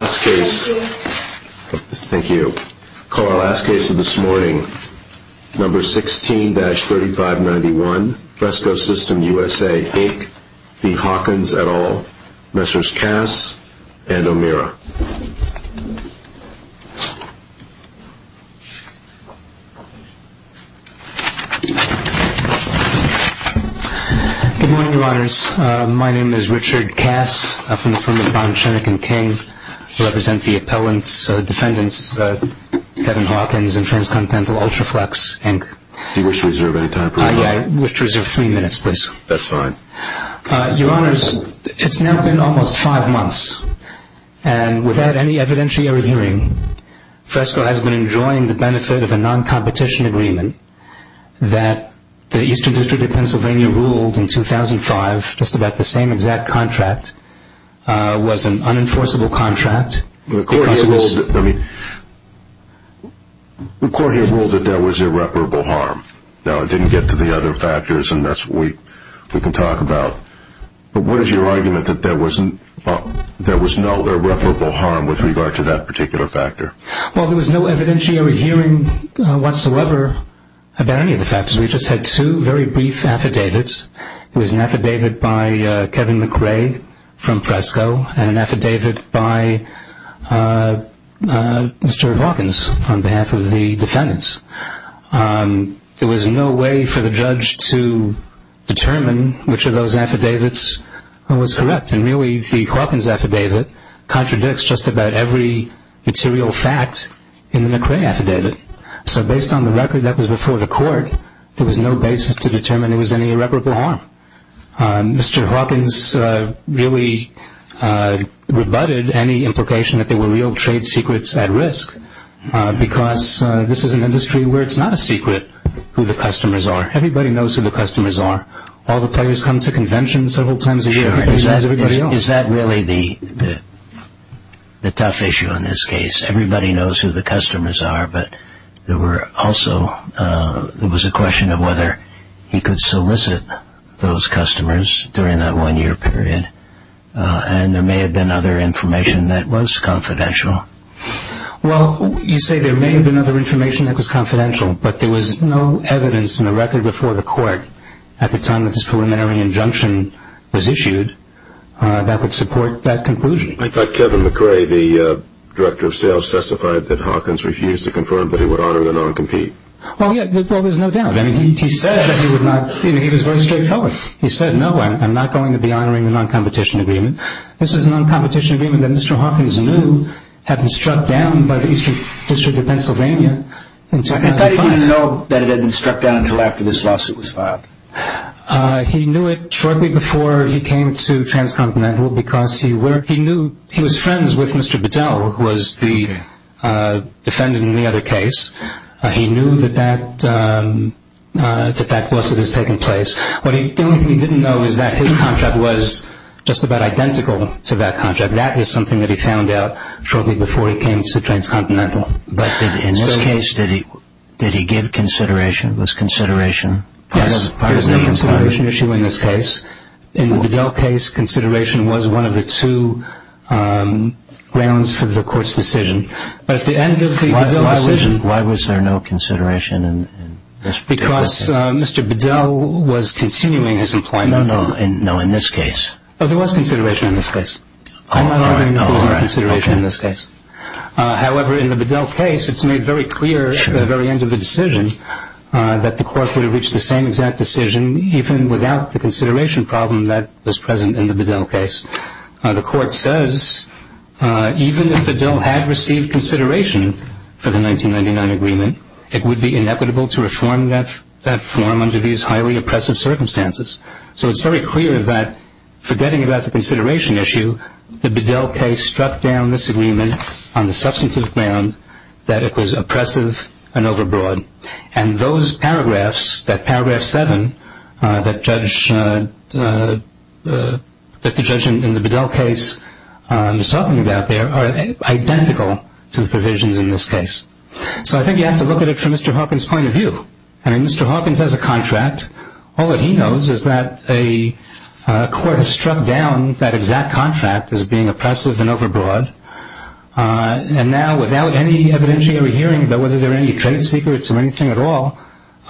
et al., Messrs. Kass, and O'Meara Good morning, Your Honors. My name is Richard Kass. I'm from the firm of Bonn, Chenick & King. I represent the appellant's defendants, Kevin Hawkins and Transcontinental Ultraflex, Inc. Do you wish to reserve any time for your honor? I wish to reserve three minutes, please. That's fine. Your Honors, it's now been almost five months, and without any evidentiary hearing, Fresco has been enjoying the benefit of a non-competition agreement that the Eastern District of Pennsylvania ruled in 2005, just that the same exact contract was an unenforceable contract. The court here ruled that there was irreparable harm. Now, it didn't get to the other factors, and that's what we can talk about, but what is your argument that there was no irreparable harm with regard to that particular factor? Well, there was no evidentiary hearing whatsoever about any brief affidavits. It was an affidavit by Kevin McRae from Fresco and an affidavit by Mr. Hawkins on behalf of the defendants. There was no way for the judge to determine which of those affidavits was correct, and really, the Hawkins affidavit contradicts just about every material fact in the McRae affidavit. So based on the record that was before the judge determined there was any irreparable harm. Mr. Hawkins really rebutted any implication that there were real trade secrets at risk, because this is an industry where it's not a secret who the customers are. Everybody knows who the customers are. All the players come to conventions several times a year. Is that really the tough issue in this case? Everybody knows who the customers are, but there were also, there was a question of whether he could solicit those customers during that one year period, and there may have been other information that was confidential. Well, you say there may have been other information that was confidential, but there was no evidence in the record before the court at the time that this preliminary injunction was issued that would support that conclusion. I thought Kevin McRae, the director of sales, testified that Hawkins refused to confirm that he would honor the non-compete. Well, there's no doubt. He said that he would not, he was very straightforward. He said, no, I'm not going to be honoring the non-competition agreement. This is a non-competition agreement that Mr. Hawkins knew had been struck down by the Eastern District of Pennsylvania in 2005. How did he know that it had been struck down until after this lawsuit was filed? He knew it shortly before he came to Transcontinental because he was friends with Mr. Bedell, who was the defendant in the other case. He knew that that lawsuit was taking place. What he didn't know is that his contract was just about identical to that contract. That is something that he found out shortly before he came to Transcontinental. But in this case, did he give consideration? Was consideration part of the inquiry? Yes, there was no consideration issue in this case. In the Bedell case, consideration was one of the two grounds for the court's decision. But at the end of the Bedell decision... Why was there no consideration in this particular case? Because Mr. Bedell was continuing his employment. No, no, in this case. Oh, there was consideration in this case. I'm not arguing that there was no consideration in this case. However, in the Bedell case, it's made very clear at the very end of the decision that the court would have reached the same exact decision, even without the consideration problem that was present in the Bedell case. The court says, even if Bedell had received consideration for the 1999 agreement, it would be inequitable to reform that form under these highly oppressive circumstances. So it's very clear that, forgetting about the consideration issue, the Bedell case struck down this agreement on the substantive ground that it was oppressive and overbroad. And those paragraphs, that paragraph 7 that the judge in the Bedell case was talking about there, are identical to the provisions in this case. So I think you have to look at it from Mr. Hawkins' point of view. I mean, Mr. Hawkins has a contract. All that he knows is that a court has struck down that exact contract as being oppressive and overbroad. And now, without any evidentiary hearing about whether there are any trade secrets or anything at all,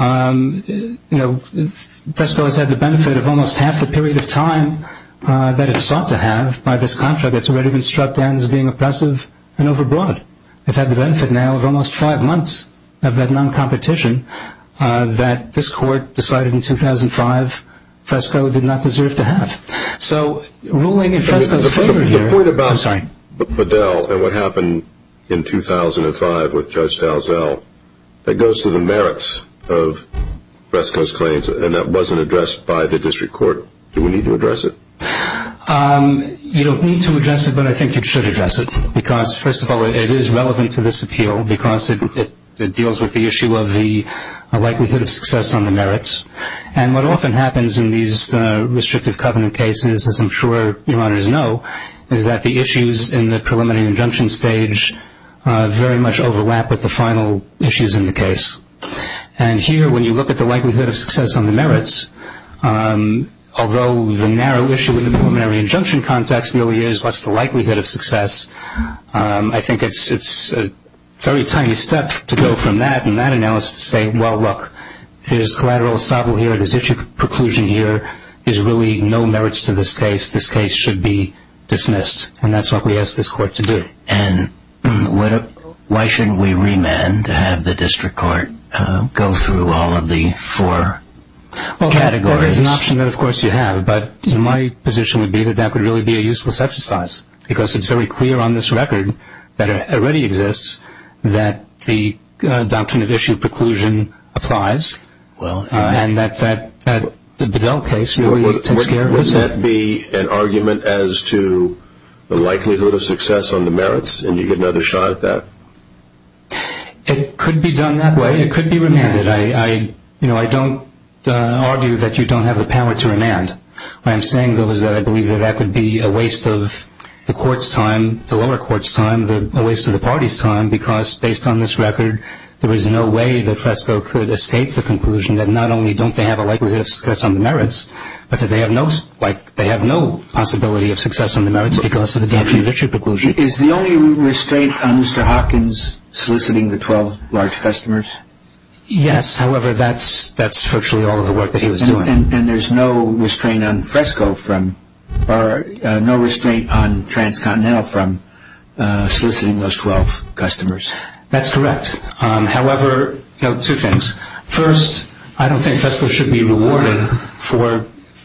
you know, Fresco has had the benefit of almost half the period of time that it sought to have by this contract that's already been struck down as being oppressive and overbroad. It's had the benefit now of almost five months of that non-competition that this court decided in 2005 Fresco did not deserve to have. So ruling in Fresco's favor here. The point about Bedell and what happened in 2005 with Judge Dalzell, that goes to the merits of Fresco's claims, and that wasn't addressed by the district court. Do we need to address it? You don't need to address it, but I think you should address it. Because, first of all, it is relevant to this appeal because it deals with the issue of the likelihood of success on the merits. And what often happens in these restrictive covenant cases, as I'm sure your honors know, is that the issues in the preliminary injunction stage very much overlap with the final issues in the case. And here, when you look at the likelihood of success on the merits, although the narrow issue in the preliminary injunction context really is what's the likelihood of success, I think it's a very tiny step to go from that and that analysis to say, well, look, there's collateral estoppel here, there's issue preclusion here, there's really no merits to this case, this case should be dismissed. And that's what we ask this court to do. And why shouldn't we remand to have the district court go through all of the four categories? Well, there's an option that, of course, you have. But my position would be that that would really be a useless exercise because it's very clear on this record that it already exists that the doctrine of issue preclusion applies, and that the Dell case really takes care of this. Would that be an argument as to the likelihood of success on the merits? And do you get another shot at that? It could be done that way. It could be remanded. I don't argue that you don't have the power to remand. What I'm saying, though, is that I believe that that could be a waste of the lower court's time, a waste of the party's time because, based on this record, there is no way that FRESCO could escape the conclusion that not only don't they have a likelihood of success on the merits, but that they have no possibility of success on the merits because of the doctrine of issue preclusion. Is the only restraint on Mr. Hawkins soliciting the 12 large customers? Yes. However, that's virtually all of the work that he was doing. And there's no restraint on FRESCO from or no restraint on Transcontinental from soliciting those 12 customers? That's correct. However, two things. First, I don't think FRESCO should be rewarded for an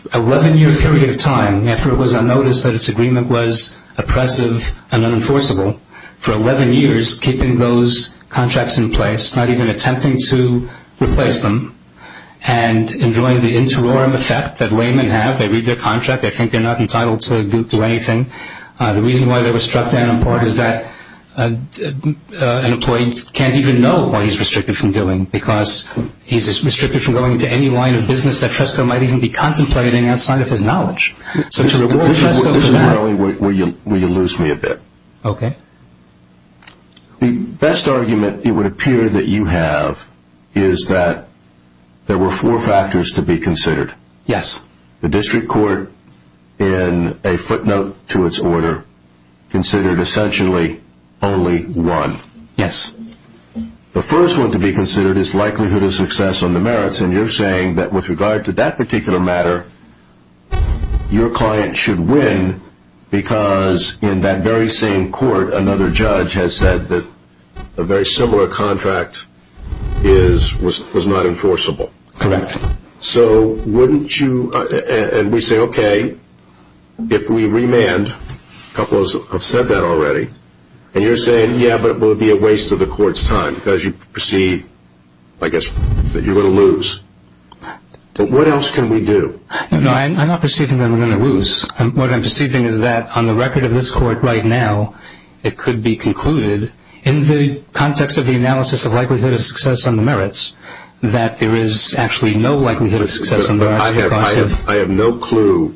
11-year period of time, after it was unnoticed that its agreement was oppressive and unenforceable, for 11 years keeping those contracts in place, not even attempting to replace them, and enjoying the interim effect that laymen have. They read their contract. They think they're not entitled to do anything. The reason why they were struck down in part is that an employee can't even know what he's restricted from doing because he's restricted from going into any line of business that FRESCO might even be contemplating outside of his knowledge. So to reward FRESCO for that. Mr. Crowley, will you lose me a bit? Okay. The best argument it would appear that you have is that there were four factors to be considered. Yes. The district court, in a footnote to its order, considered essentially only one. Yes. The first one to be considered is likelihood of success on the merits, and you're saying that with regard to that particular matter, your client should win because in that very same court another judge has said that a very similar contract was not enforceable. Correct. So wouldn't you, and we say okay, if we remand, a couple have said that already, and you're saying, yeah, but it would be a waste of the court's time because you perceive, I guess, that you're going to lose. But what else can we do? No, I'm not perceiving that we're going to lose. What I'm perceiving is that on the record of this court right now, it could be concluded in the context of the analysis of likelihood of success on the merits that there is actually no likelihood of success on the merits because of. I have no clue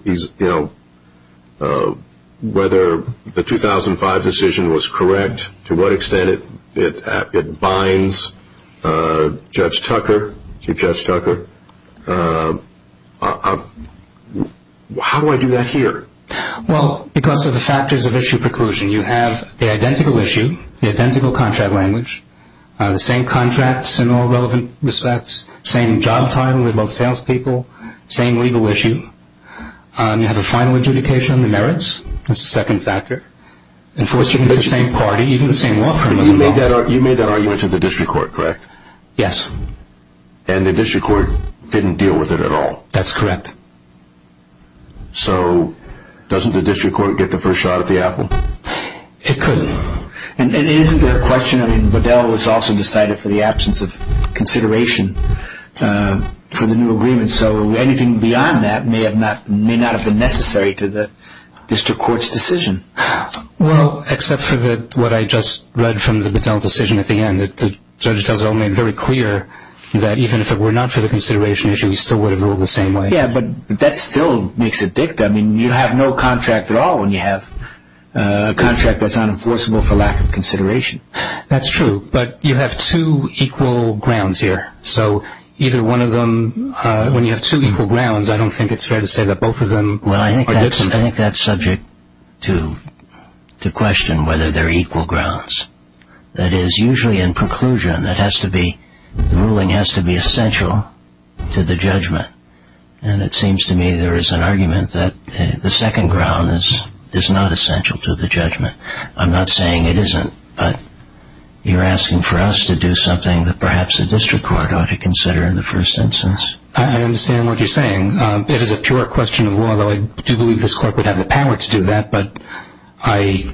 whether the 2005 decision was correct, to what extent it binds Judge Tucker, Chief Judge Tucker. How do I do that here? Well, because of the factors of issue preclusion. You have the identical issue, the identical contract language, the same contracts in all relevant respects, same job title, they're both salespeople, same legal issue. You have a final adjudication on the merits. That's the second factor. Enforcing it's the same party, even the same law firm. You made that argument to the district court, correct? Yes. And the district court didn't deal with it at all? That's correct. So doesn't the district court get the first shot at the apple? It couldn't. And isn't there a question, I mean, Bedell was also decided for the absence of consideration for the new agreement, so anything beyond that may not have been necessary to the district court's decision. Well, except for what I just read from the Bedell decision at the end, the judge does it all made very clear that even if it were not for the consideration issue, he still would have ruled the same way. Yes, but that still makes it dicta. I mean, you have no contract at all when you have a contract that's unenforceable for lack of consideration. That's true. But you have two equal grounds here, so either one of them, when you have two equal grounds, I don't think it's fair to say that both of them are dicta. Well, I think that's subject to question whether they're equal grounds. That is, usually in conclusion, the ruling has to be essential to the judgment. And it seems to me there is an argument that the second ground is not essential to the judgment. I'm not saying it isn't, but you're asking for us to do something that perhaps the district court ought to consider in the first instance. I understand what you're saying. It is a pure question of law, though I do believe this court would have the power to do that, but I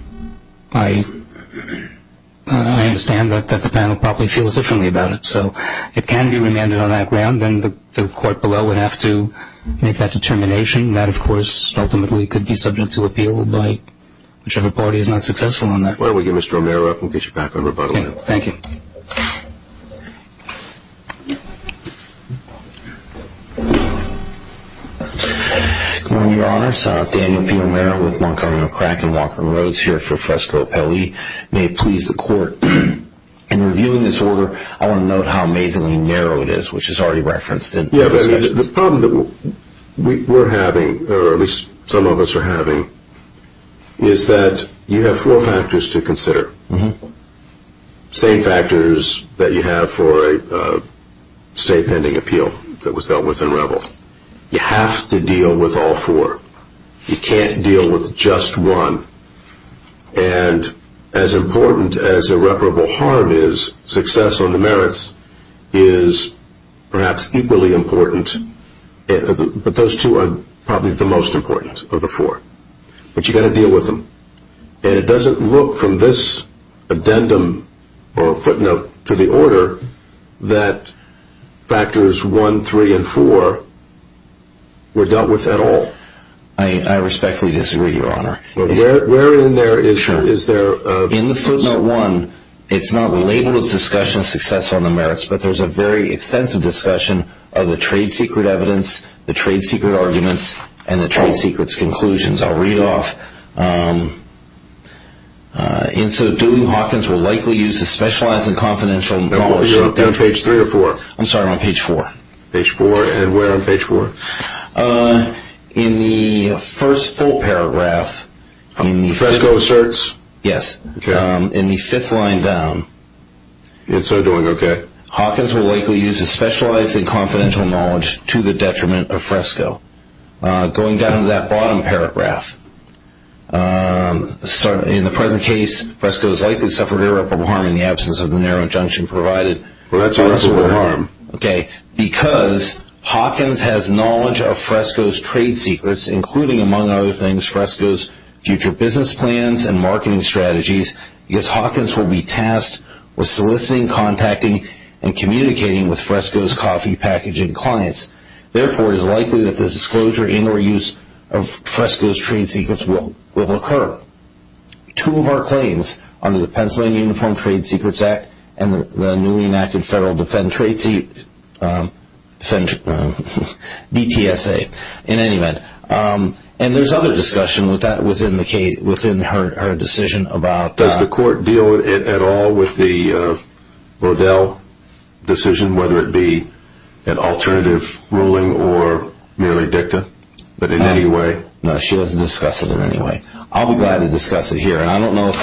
understand that the panel probably feels differently about it. So if it can be remanded on that ground, then the court below would have to make that determination. That, of course, ultimately could be subject to appeal by whichever party is not successful on that. Why don't we give Mr. O'Meara up and we'll get you back on rebuttal. Thank you. Good morning, Your Honors. Daniel P. O'Meara with Montcarno Crack and Walker & Rhodes here for Fresco Appellee. May it please the Court, In reviewing this order, I want to note how amazingly narrow it is, which is already referenced in the discussion. The problem that we're having, or at least some of us are having, is that you have four factors to consider, same factors that you have for a state pending appeal that was dealt with in Revel. You have to deal with all four. You can't deal with just one. And as important as irreparable harm is, success on the merits is perhaps equally important. But those two are probably the most important of the four. But you've got to deal with them. And it doesn't look from this addendum or footnote to the order that factors one, three, and four were dealt with at all. I respectfully disagree, Your Honor. But where in there is there... Sure. In the footnote one, it's not labeled as discussion of success on the merits, but there's a very extensive discussion of the trade secret evidence, the trade secret arguments, and the trade secrets conclusions. I'll read off. And so Dooling-Hawkins will likely use a specialized and confidential knowledge... Are you on page three or four? I'm sorry, I'm on page four. Page four, and where on page four? In the first full paragraph... Fresco asserts? Yes. Okay. In the fifth line down... And so Dooling, okay. Hawkins will likely use a specialized and confidential knowledge to the detriment of Fresco. Going down to that bottom paragraph, in the present case, Fresco has likely suffered irreparable harm in the absence of the narrow junction provided. Well, that's irreparable harm. Okay. Because Hawkins has knowledge of Fresco's trade secrets, including, among other things, Fresco's future business plans and marketing strategies, because Hawkins will be tasked with soliciting, contacting, and communicating with Fresco's coffee packaging clients. Therefore, it is likely that the disclosure and or use of Fresco's trade secrets will occur. Two of our claims under the Pennsylvania Uniform Trade Secrets Act and the newly enacted Federal Defend Trade Seat, DTSA, in any event. And there's other discussion within her decision about... Does the court deal at all with the Rodell decision, whether it be an alternative ruling or merely dicta, but in any way? No, she doesn't discuss it in any way. I'll be glad to discuss it here. I don't know if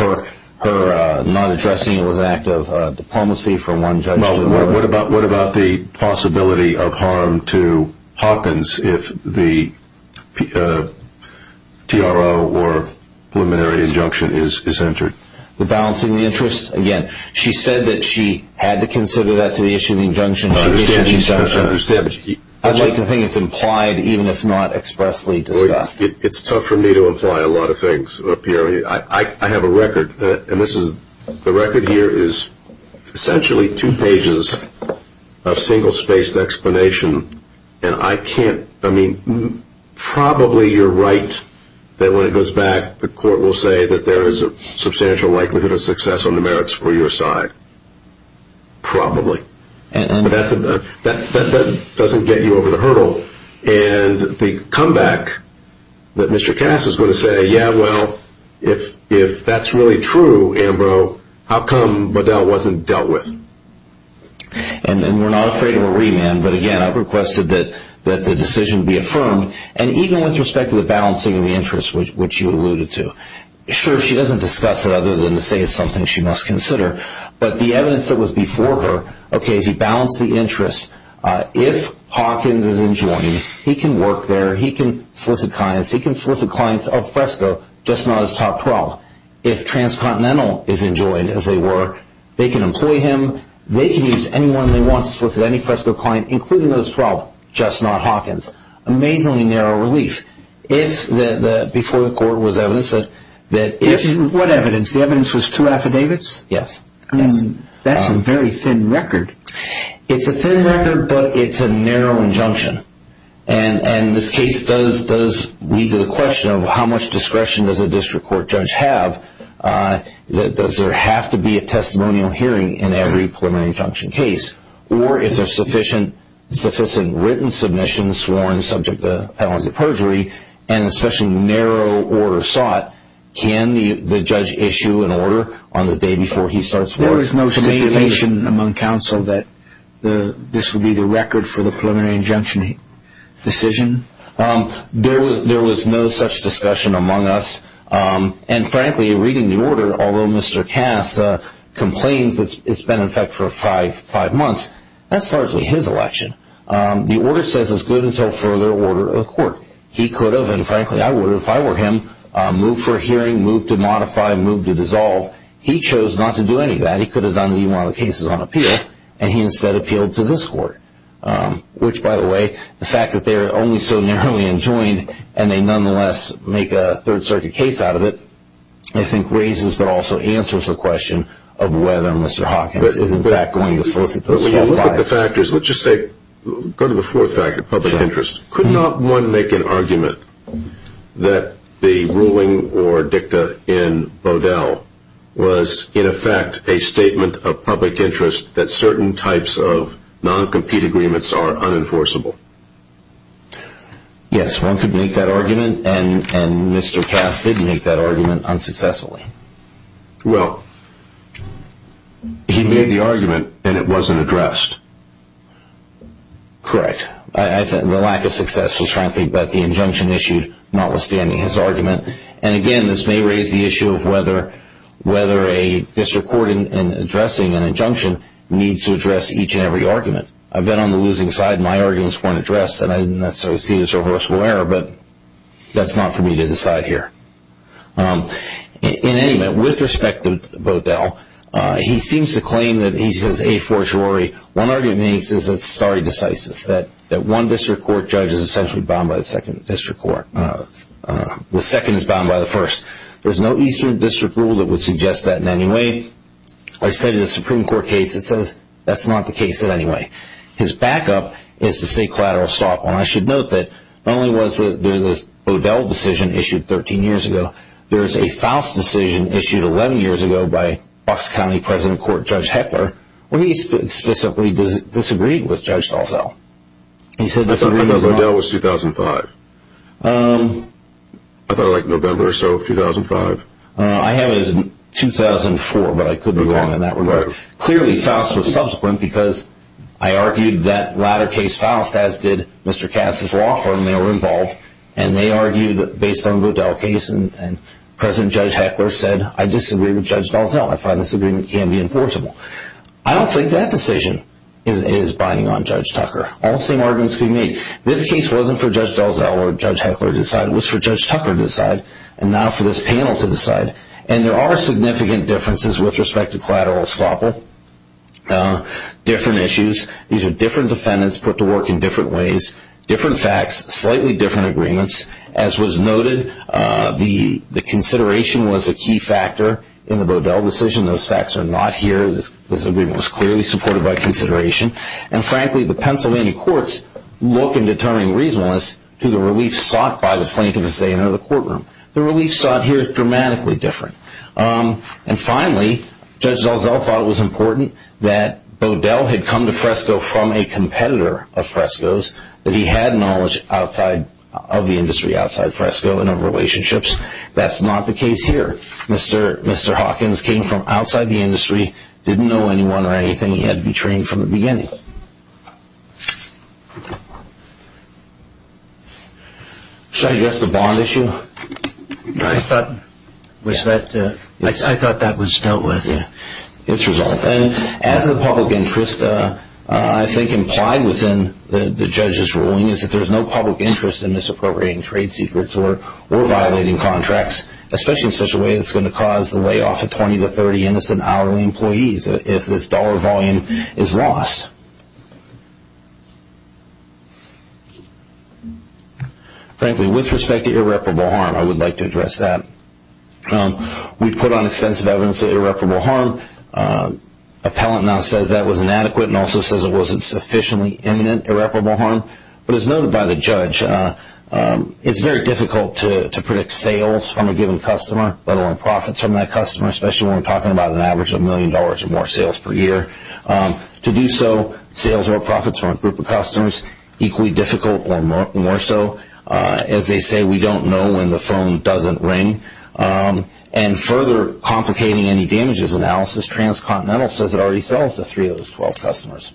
her not addressing it was an act of diplomacy from one judge to another. What about the possibility of harm to Hawkins if the TRO or preliminary injunction is entered? The balance in the interest? Again, she said that she had to consider that to the issue of the injunction. She issued the injunction. I understand. I'd like to think it's implied, even if not expressly discussed. It's tough for me to imply a lot of things, Pierre. I have a record, and the record here is essentially two pages of single-spaced explanation. And I can't... I mean, probably you're right that when it goes back, the court will say that there is a substantial likelihood of success on the merits for your side. Probably. But that doesn't get you over the hurdle. And the comeback that Mr. Cass is going to say, yeah, well, if that's really true, Ambrose, how come Bedell wasn't dealt with? And we're not afraid of a remand. But, again, I've requested that the decision be affirmed. And even with respect to the balancing of the interest, which you alluded to, sure, she doesn't discuss it other than to say it's something she must consider. But the evidence that was before her, okay, she balanced the interest. If Hawkins is enjoined, he can work there. He can solicit clients. He can solicit clients of Fresco, just not his top 12. If Transcontinental is enjoined, as they were, they can employ him. They can use anyone they want to solicit any Fresco client, including those 12, just not Hawkins. Amazingly narrow relief. If before the court was evidence that if... What evidence? The evidence was two affidavits? Yes. That's a very thin record. It's a thin record, but it's a narrow injunction. And this case does lead to the question of how much discretion does a district court judge have? Does there have to be a testimonial hearing in every preliminary injunction case? Or if there's sufficient written submissions sworn subject to appellate perjury and especially narrow order sought, can the judge issue an order on the day before he starts working? There was no statement among counsel that this would be the record for the preliminary injunction decision? There was no such discussion among us. And frankly, reading the order, although Mr. Cass complains it's been in effect for five months, that's largely his election. The order says it's good until further order of the court. He could have, and frankly I would have, if I were him, moved for a hearing, moved to modify, moved to dissolve. He chose not to do any of that. He could have done even one of the cases on appeal, and he instead appealed to this court, which, by the way, the fact that they're only so narrowly enjoined and they nonetheless make a Third Circuit case out of it, I think, raises but also answers the question of whether Mr. Hawkins is in fact going to solicit those five. When you look at the factors, let's just go to the fourth factor, public interest. Could not one make an argument that the ruling or dicta in Bodell was, in effect, a statement of public interest that certain types of non-compete agreements are unenforceable? Yes, one could make that argument, and Mr. Cass did make that argument unsuccessfully. Well, he made the argument and it wasn't addressed. Correct. The lack of success was, frankly, but the injunction issued notwithstanding his argument. And again, this may raise the issue of whether a district court in addressing an injunction needs to address each and every argument. I've been on the losing side, and my arguments weren't addressed, and I didn't necessarily see this as a reversible error, but that's not for me to decide here. In any event, with respect to Bodell, he seems to claim that he's a forgery. One argument he makes is that stare decisis, that one district court judge is essentially bound by the second district court. The second is bound by the first. There's no eastern district rule that would suggest that in any way. I said in a Supreme Court case, it says that's not the case in any way. His backup is to say collateral stop. I should note that not only was there this Bodell decision issued 13 years ago, there's a Faust decision issued 11 years ago by Bucks County President Court Judge Heckler where he specifically disagreed with Judge Dalzell. I thought Bodell was 2005. I thought like November or so of 2005. I have it as 2004, but I could be wrong in that regard. Clearly, Faust was subsequent because I argued that latter case Faust, as did Mr. Cass' law firm, they were involved, and they argued based on the Bodell case, and President Judge Heckler said, I disagree with Judge Dalzell. I find this agreement can be enforceable. I don't think that decision is binding on Judge Tucker. All the same arguments can be made. This case wasn't for Judge Dalzell or Judge Heckler to decide. It was for Judge Tucker to decide and not for this panel to decide. And there are significant differences with respect to collateral estoppel, different issues. These are different defendants put to work in different ways, different facts, slightly different agreements. As was noted, the consideration was a key factor in the Bodell decision. Those facts are not here. This agreement was clearly supported by consideration. And frankly, the Pennsylvania courts look in determining reasonableness to the relief sought by the plaintiff as they enter the courtroom. The relief sought here is dramatically different. And finally, Judge Dalzell thought it was important that Bodell had come to Fresco from a competitor of Fresco's, that he had knowledge of the industry outside Fresco and of relationships. That's not the case here. Mr. Hawkins came from outside the industry, didn't know anyone or anything. He had to be trained from the beginning. Should I address the bond issue? I thought that was dealt with. It's resolved. And as a public interest, I think implied within the judge's ruling, is that there's no public interest in misappropriating trade secrets or violating contracts, especially in such a way that's going to cause the layoff of 20 to 30 innocent hourly employees if this dollar volume is lost. Frankly, with respect to irreparable harm, I would like to address that. We put on extensive evidence of irreparable harm. Appellant now says that was inadequate and also says it wasn't sufficiently imminent irreparable harm. But as noted by the judge, it's very difficult to predict sales from a given customer, let alone profits from that customer, especially when we're talking about an average of a million dollars or more sales per year. To do so, sales or profits from a group of customers, equally difficult or more so. As they say, we don't know when the phone doesn't ring. And further complicating any damages analysis, Transcontinental says it already sells to three of those 12 customers.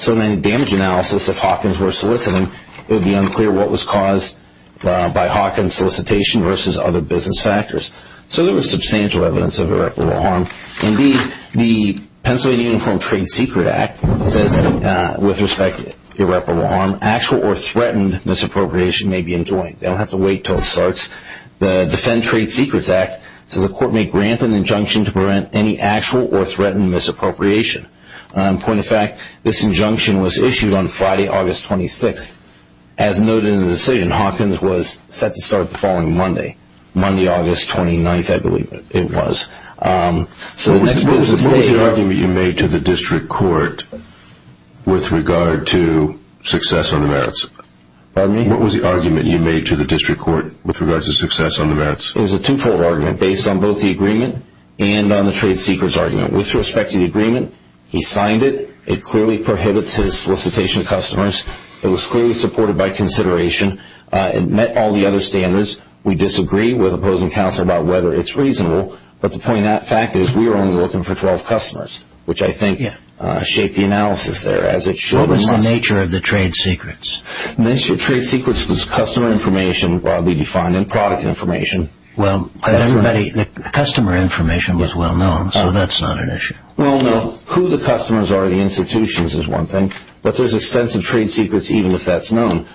So then damage analysis, if Hawkins were soliciting, it would be unclear what was caused by Hawkins solicitation versus other business factors. So there was substantial evidence of irreparable harm. Indeed, the Pennsylvania Uniform Trade Secret Act says with respect to irreparable harm, actual or threatened misappropriation may be enjoined. They don't have to wait until it starts. The Defend Trade Secrets Act says the court may grant an injunction to prevent any actual or threatened misappropriation. Point of fact, this injunction was issued on Friday, August 26th. As noted in the decision, Hawkins was set to start the following Monday. Monday, August 29th, I believe it was. So the next business day... What was the argument you made to the district court with regard to success on the merits? Pardon me? What was the argument you made to the district court with regard to success on the merits? It was a two-fold argument based on both the agreement and on the trade secrets argument. With respect to the agreement, he signed it. It clearly prohibits his solicitation of customers. It was clearly supported by consideration. It met all the other standards. We disagree with opposing counsel about whether it's reasonable. But the point of that fact is we were only looking for 12 customers, which I think shaped the analysis there, as it should and must. What was the nature of the trade secrets? The nature of the trade secrets was customer information, broadly defined, and product information. The customer information was well known, so that's not an issue. Who the customers are at the institutions is one thing, but there's extensive trade secrets even if that's known.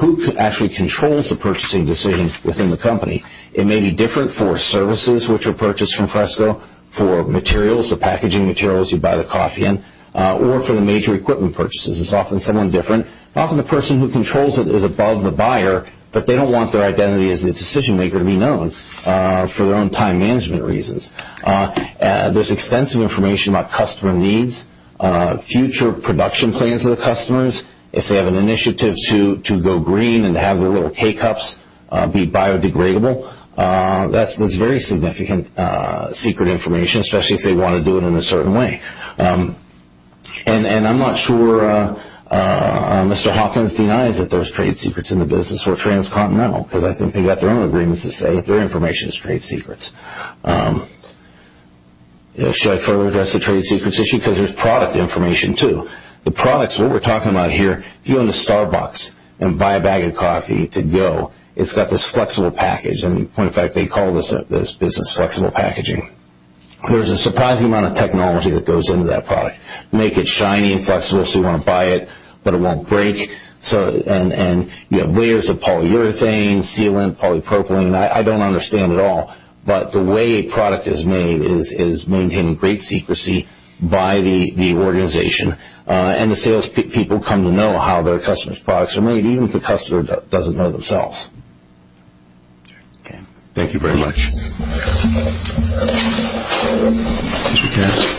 Who actually controls the purchasing decision within the company? It may be different for services, which are purchased from Fresco, for materials, the packaging materials you buy the coffee in, or for the major equipment purchases. It's often someone different. Often the person who controls it is above the buyer, but they don't want their identity as the decision maker to be known for their own time management reasons. There's extensive information about customer needs, future production plans of the customers, if they have an initiative to go green and have their little teacups be biodegradable. That's very significant secret information, especially if they want to do it in a certain way. And I'm not sure Mr. Hopkins denies that there's trade secrets in the business, or transcontinental, because I think they've got their own agreements that say their information is trade secrets. Should I further address the trade secrets issue? Because there's product information too. The products, what we're talking about here, if you own a Starbucks and buy a bag of coffee to go, it's got this flexible package. In fact, they call this business flexible packaging. There's a surprising amount of technology that goes into that product. Make it shiny and flexible so you want to buy it, but it won't break. And you have layers of polyurethane, sealant, polypropylene. I don't understand it all, but the way a product is made is maintaining great secrecy by the organization. And the salespeople come to know how their customers' products are made, even if the customer doesn't know themselves. Thank you very much. Mr. Cass.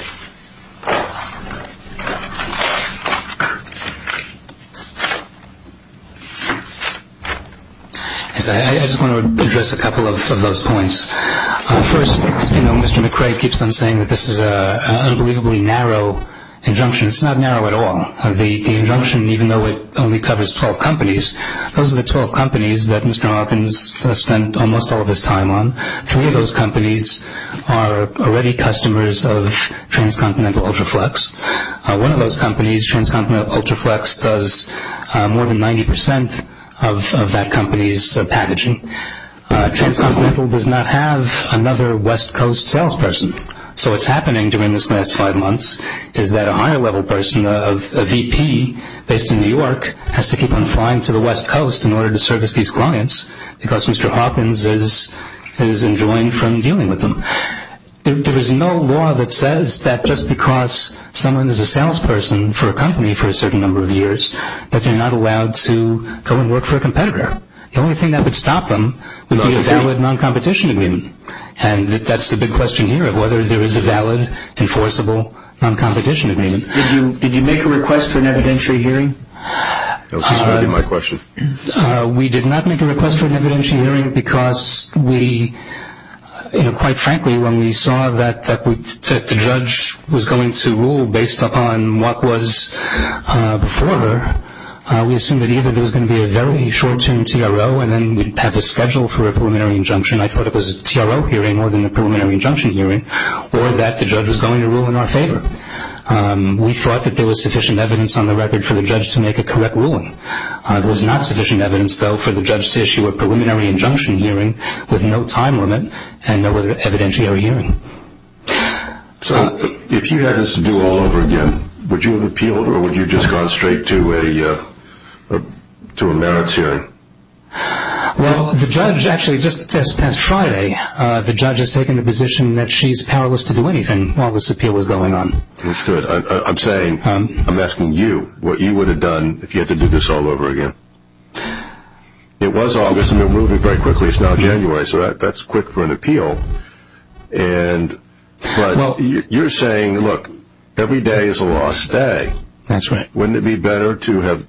I just want to address a couple of those points. First, Mr. McRae keeps on saying that this is an unbelievably narrow injunction. It's not narrow at all. The injunction, even though it only covers 12 companies, those are the 12 companies that Mr. Hopkins has spent almost all of his time on. Three of those companies are already customers of Transcontinental Ultraflex. One of those companies, Transcontinental Ultraflex, does more than 90% of that company's packaging. Transcontinental does not have another West Coast salesperson. So what's happening during this last five months is that a higher-level person, a VP based in New York, has to keep on flying to the West Coast in order to service these clients because Mr. Hopkins is enjoying from dealing with them. There is no law that says that just because someone is a salesperson for a company for a certain number of years that they're not allowed to go and work for a competitor. The only thing that would stop them would be a valid non-competition agreement. And that's the big question here of whether there is a valid, enforceable non-competition agreement. Did you make a request for an evidentiary hearing? That was already my question. We did not make a request for an evidentiary hearing because we, quite frankly, when we saw that the judge was going to rule based upon what was before her, we assumed that either there was going to be a very short-term TRO and then we'd have a schedule for a preliminary injunction. I thought it was a TRO hearing more than a preliminary injunction hearing, or that the judge was going to rule in our favor. We thought that there was sufficient evidence on the record for the judge to make a correct ruling. There was not sufficient evidence, though, for the judge to issue a preliminary injunction hearing with no time limit and no evidentiary hearing. So if you had this to do all over again, would you have appealed or would you have just gone straight to a merits hearing? Well, the judge actually just this past Friday, the judge has taken the position that she's powerless to do anything while this appeal was going on. I'm asking you what you would have done if you had to do this all over again. It was August and it moved very quickly. It's now January, so that's quick for an appeal. But you're saying, look, every day is a lost day. Wouldn't it be better to have,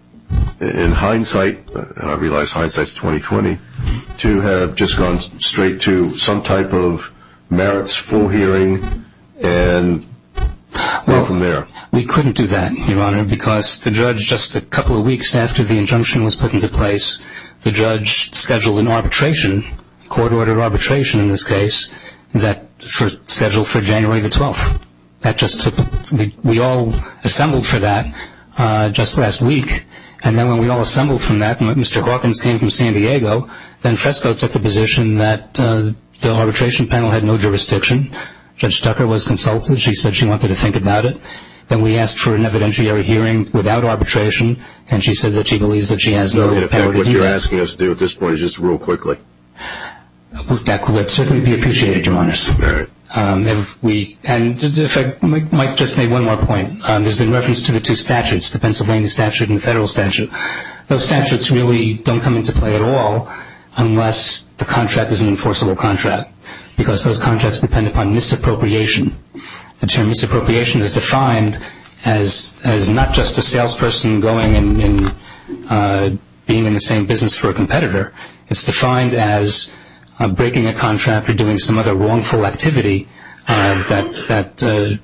in hindsight, and I realize hindsight is 20-20, to have just gone straight to some type of merits full hearing and go from there? Well, we couldn't do that, Your Honor, because the judge just a couple of weeks after the injunction was put into place, the judge scheduled an arbitration, court-ordered arbitration in this case, that was scheduled for January the 12th. We all assembled for that just last week. And then when we all assembled for that, Mr. Hawkins came from San Diego. Then Fresco took the position that the arbitration panel had no jurisdiction. Judge Tucker was consulted. She said she wanted to think about it. Then we asked for an evidentiary hearing without arbitration, and she said that she believes that she has no power to do that. What you're asking us to do at this point is just rule quickly. That would certainly be appreciated, Your Honor. All right. And if I might just make one more point, there's been reference to the two statutes, the Pennsylvania statute and the federal statute. Those statutes really don't come into play at all unless the contract is an enforceable contract, because those contracts depend upon misappropriation. The term misappropriation is defined as not just a salesperson going and being in the same business for a competitor. It's defined as breaking a contract or doing some other wrongful activity that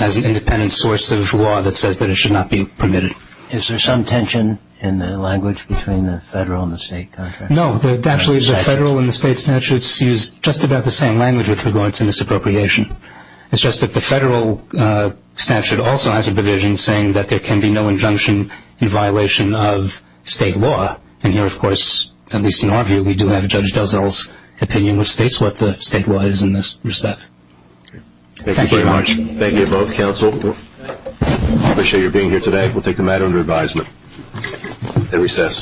has an independent source of law that says that it should not be permitted. Is there some tension in the language between the federal and the state contract? No. Actually, the federal and the state statutes use just about the same language with regard to misappropriation. It's just that the federal statute also has a provision saying that there can be no injunction in violation of state law. And here, of course, at least in our view, we do have Judge Dozell's opinion, which states what the state law is in this respect. Thank you very much. Thank you both, counsel. I appreciate your being here today. We'll take the matter under advisement and recess.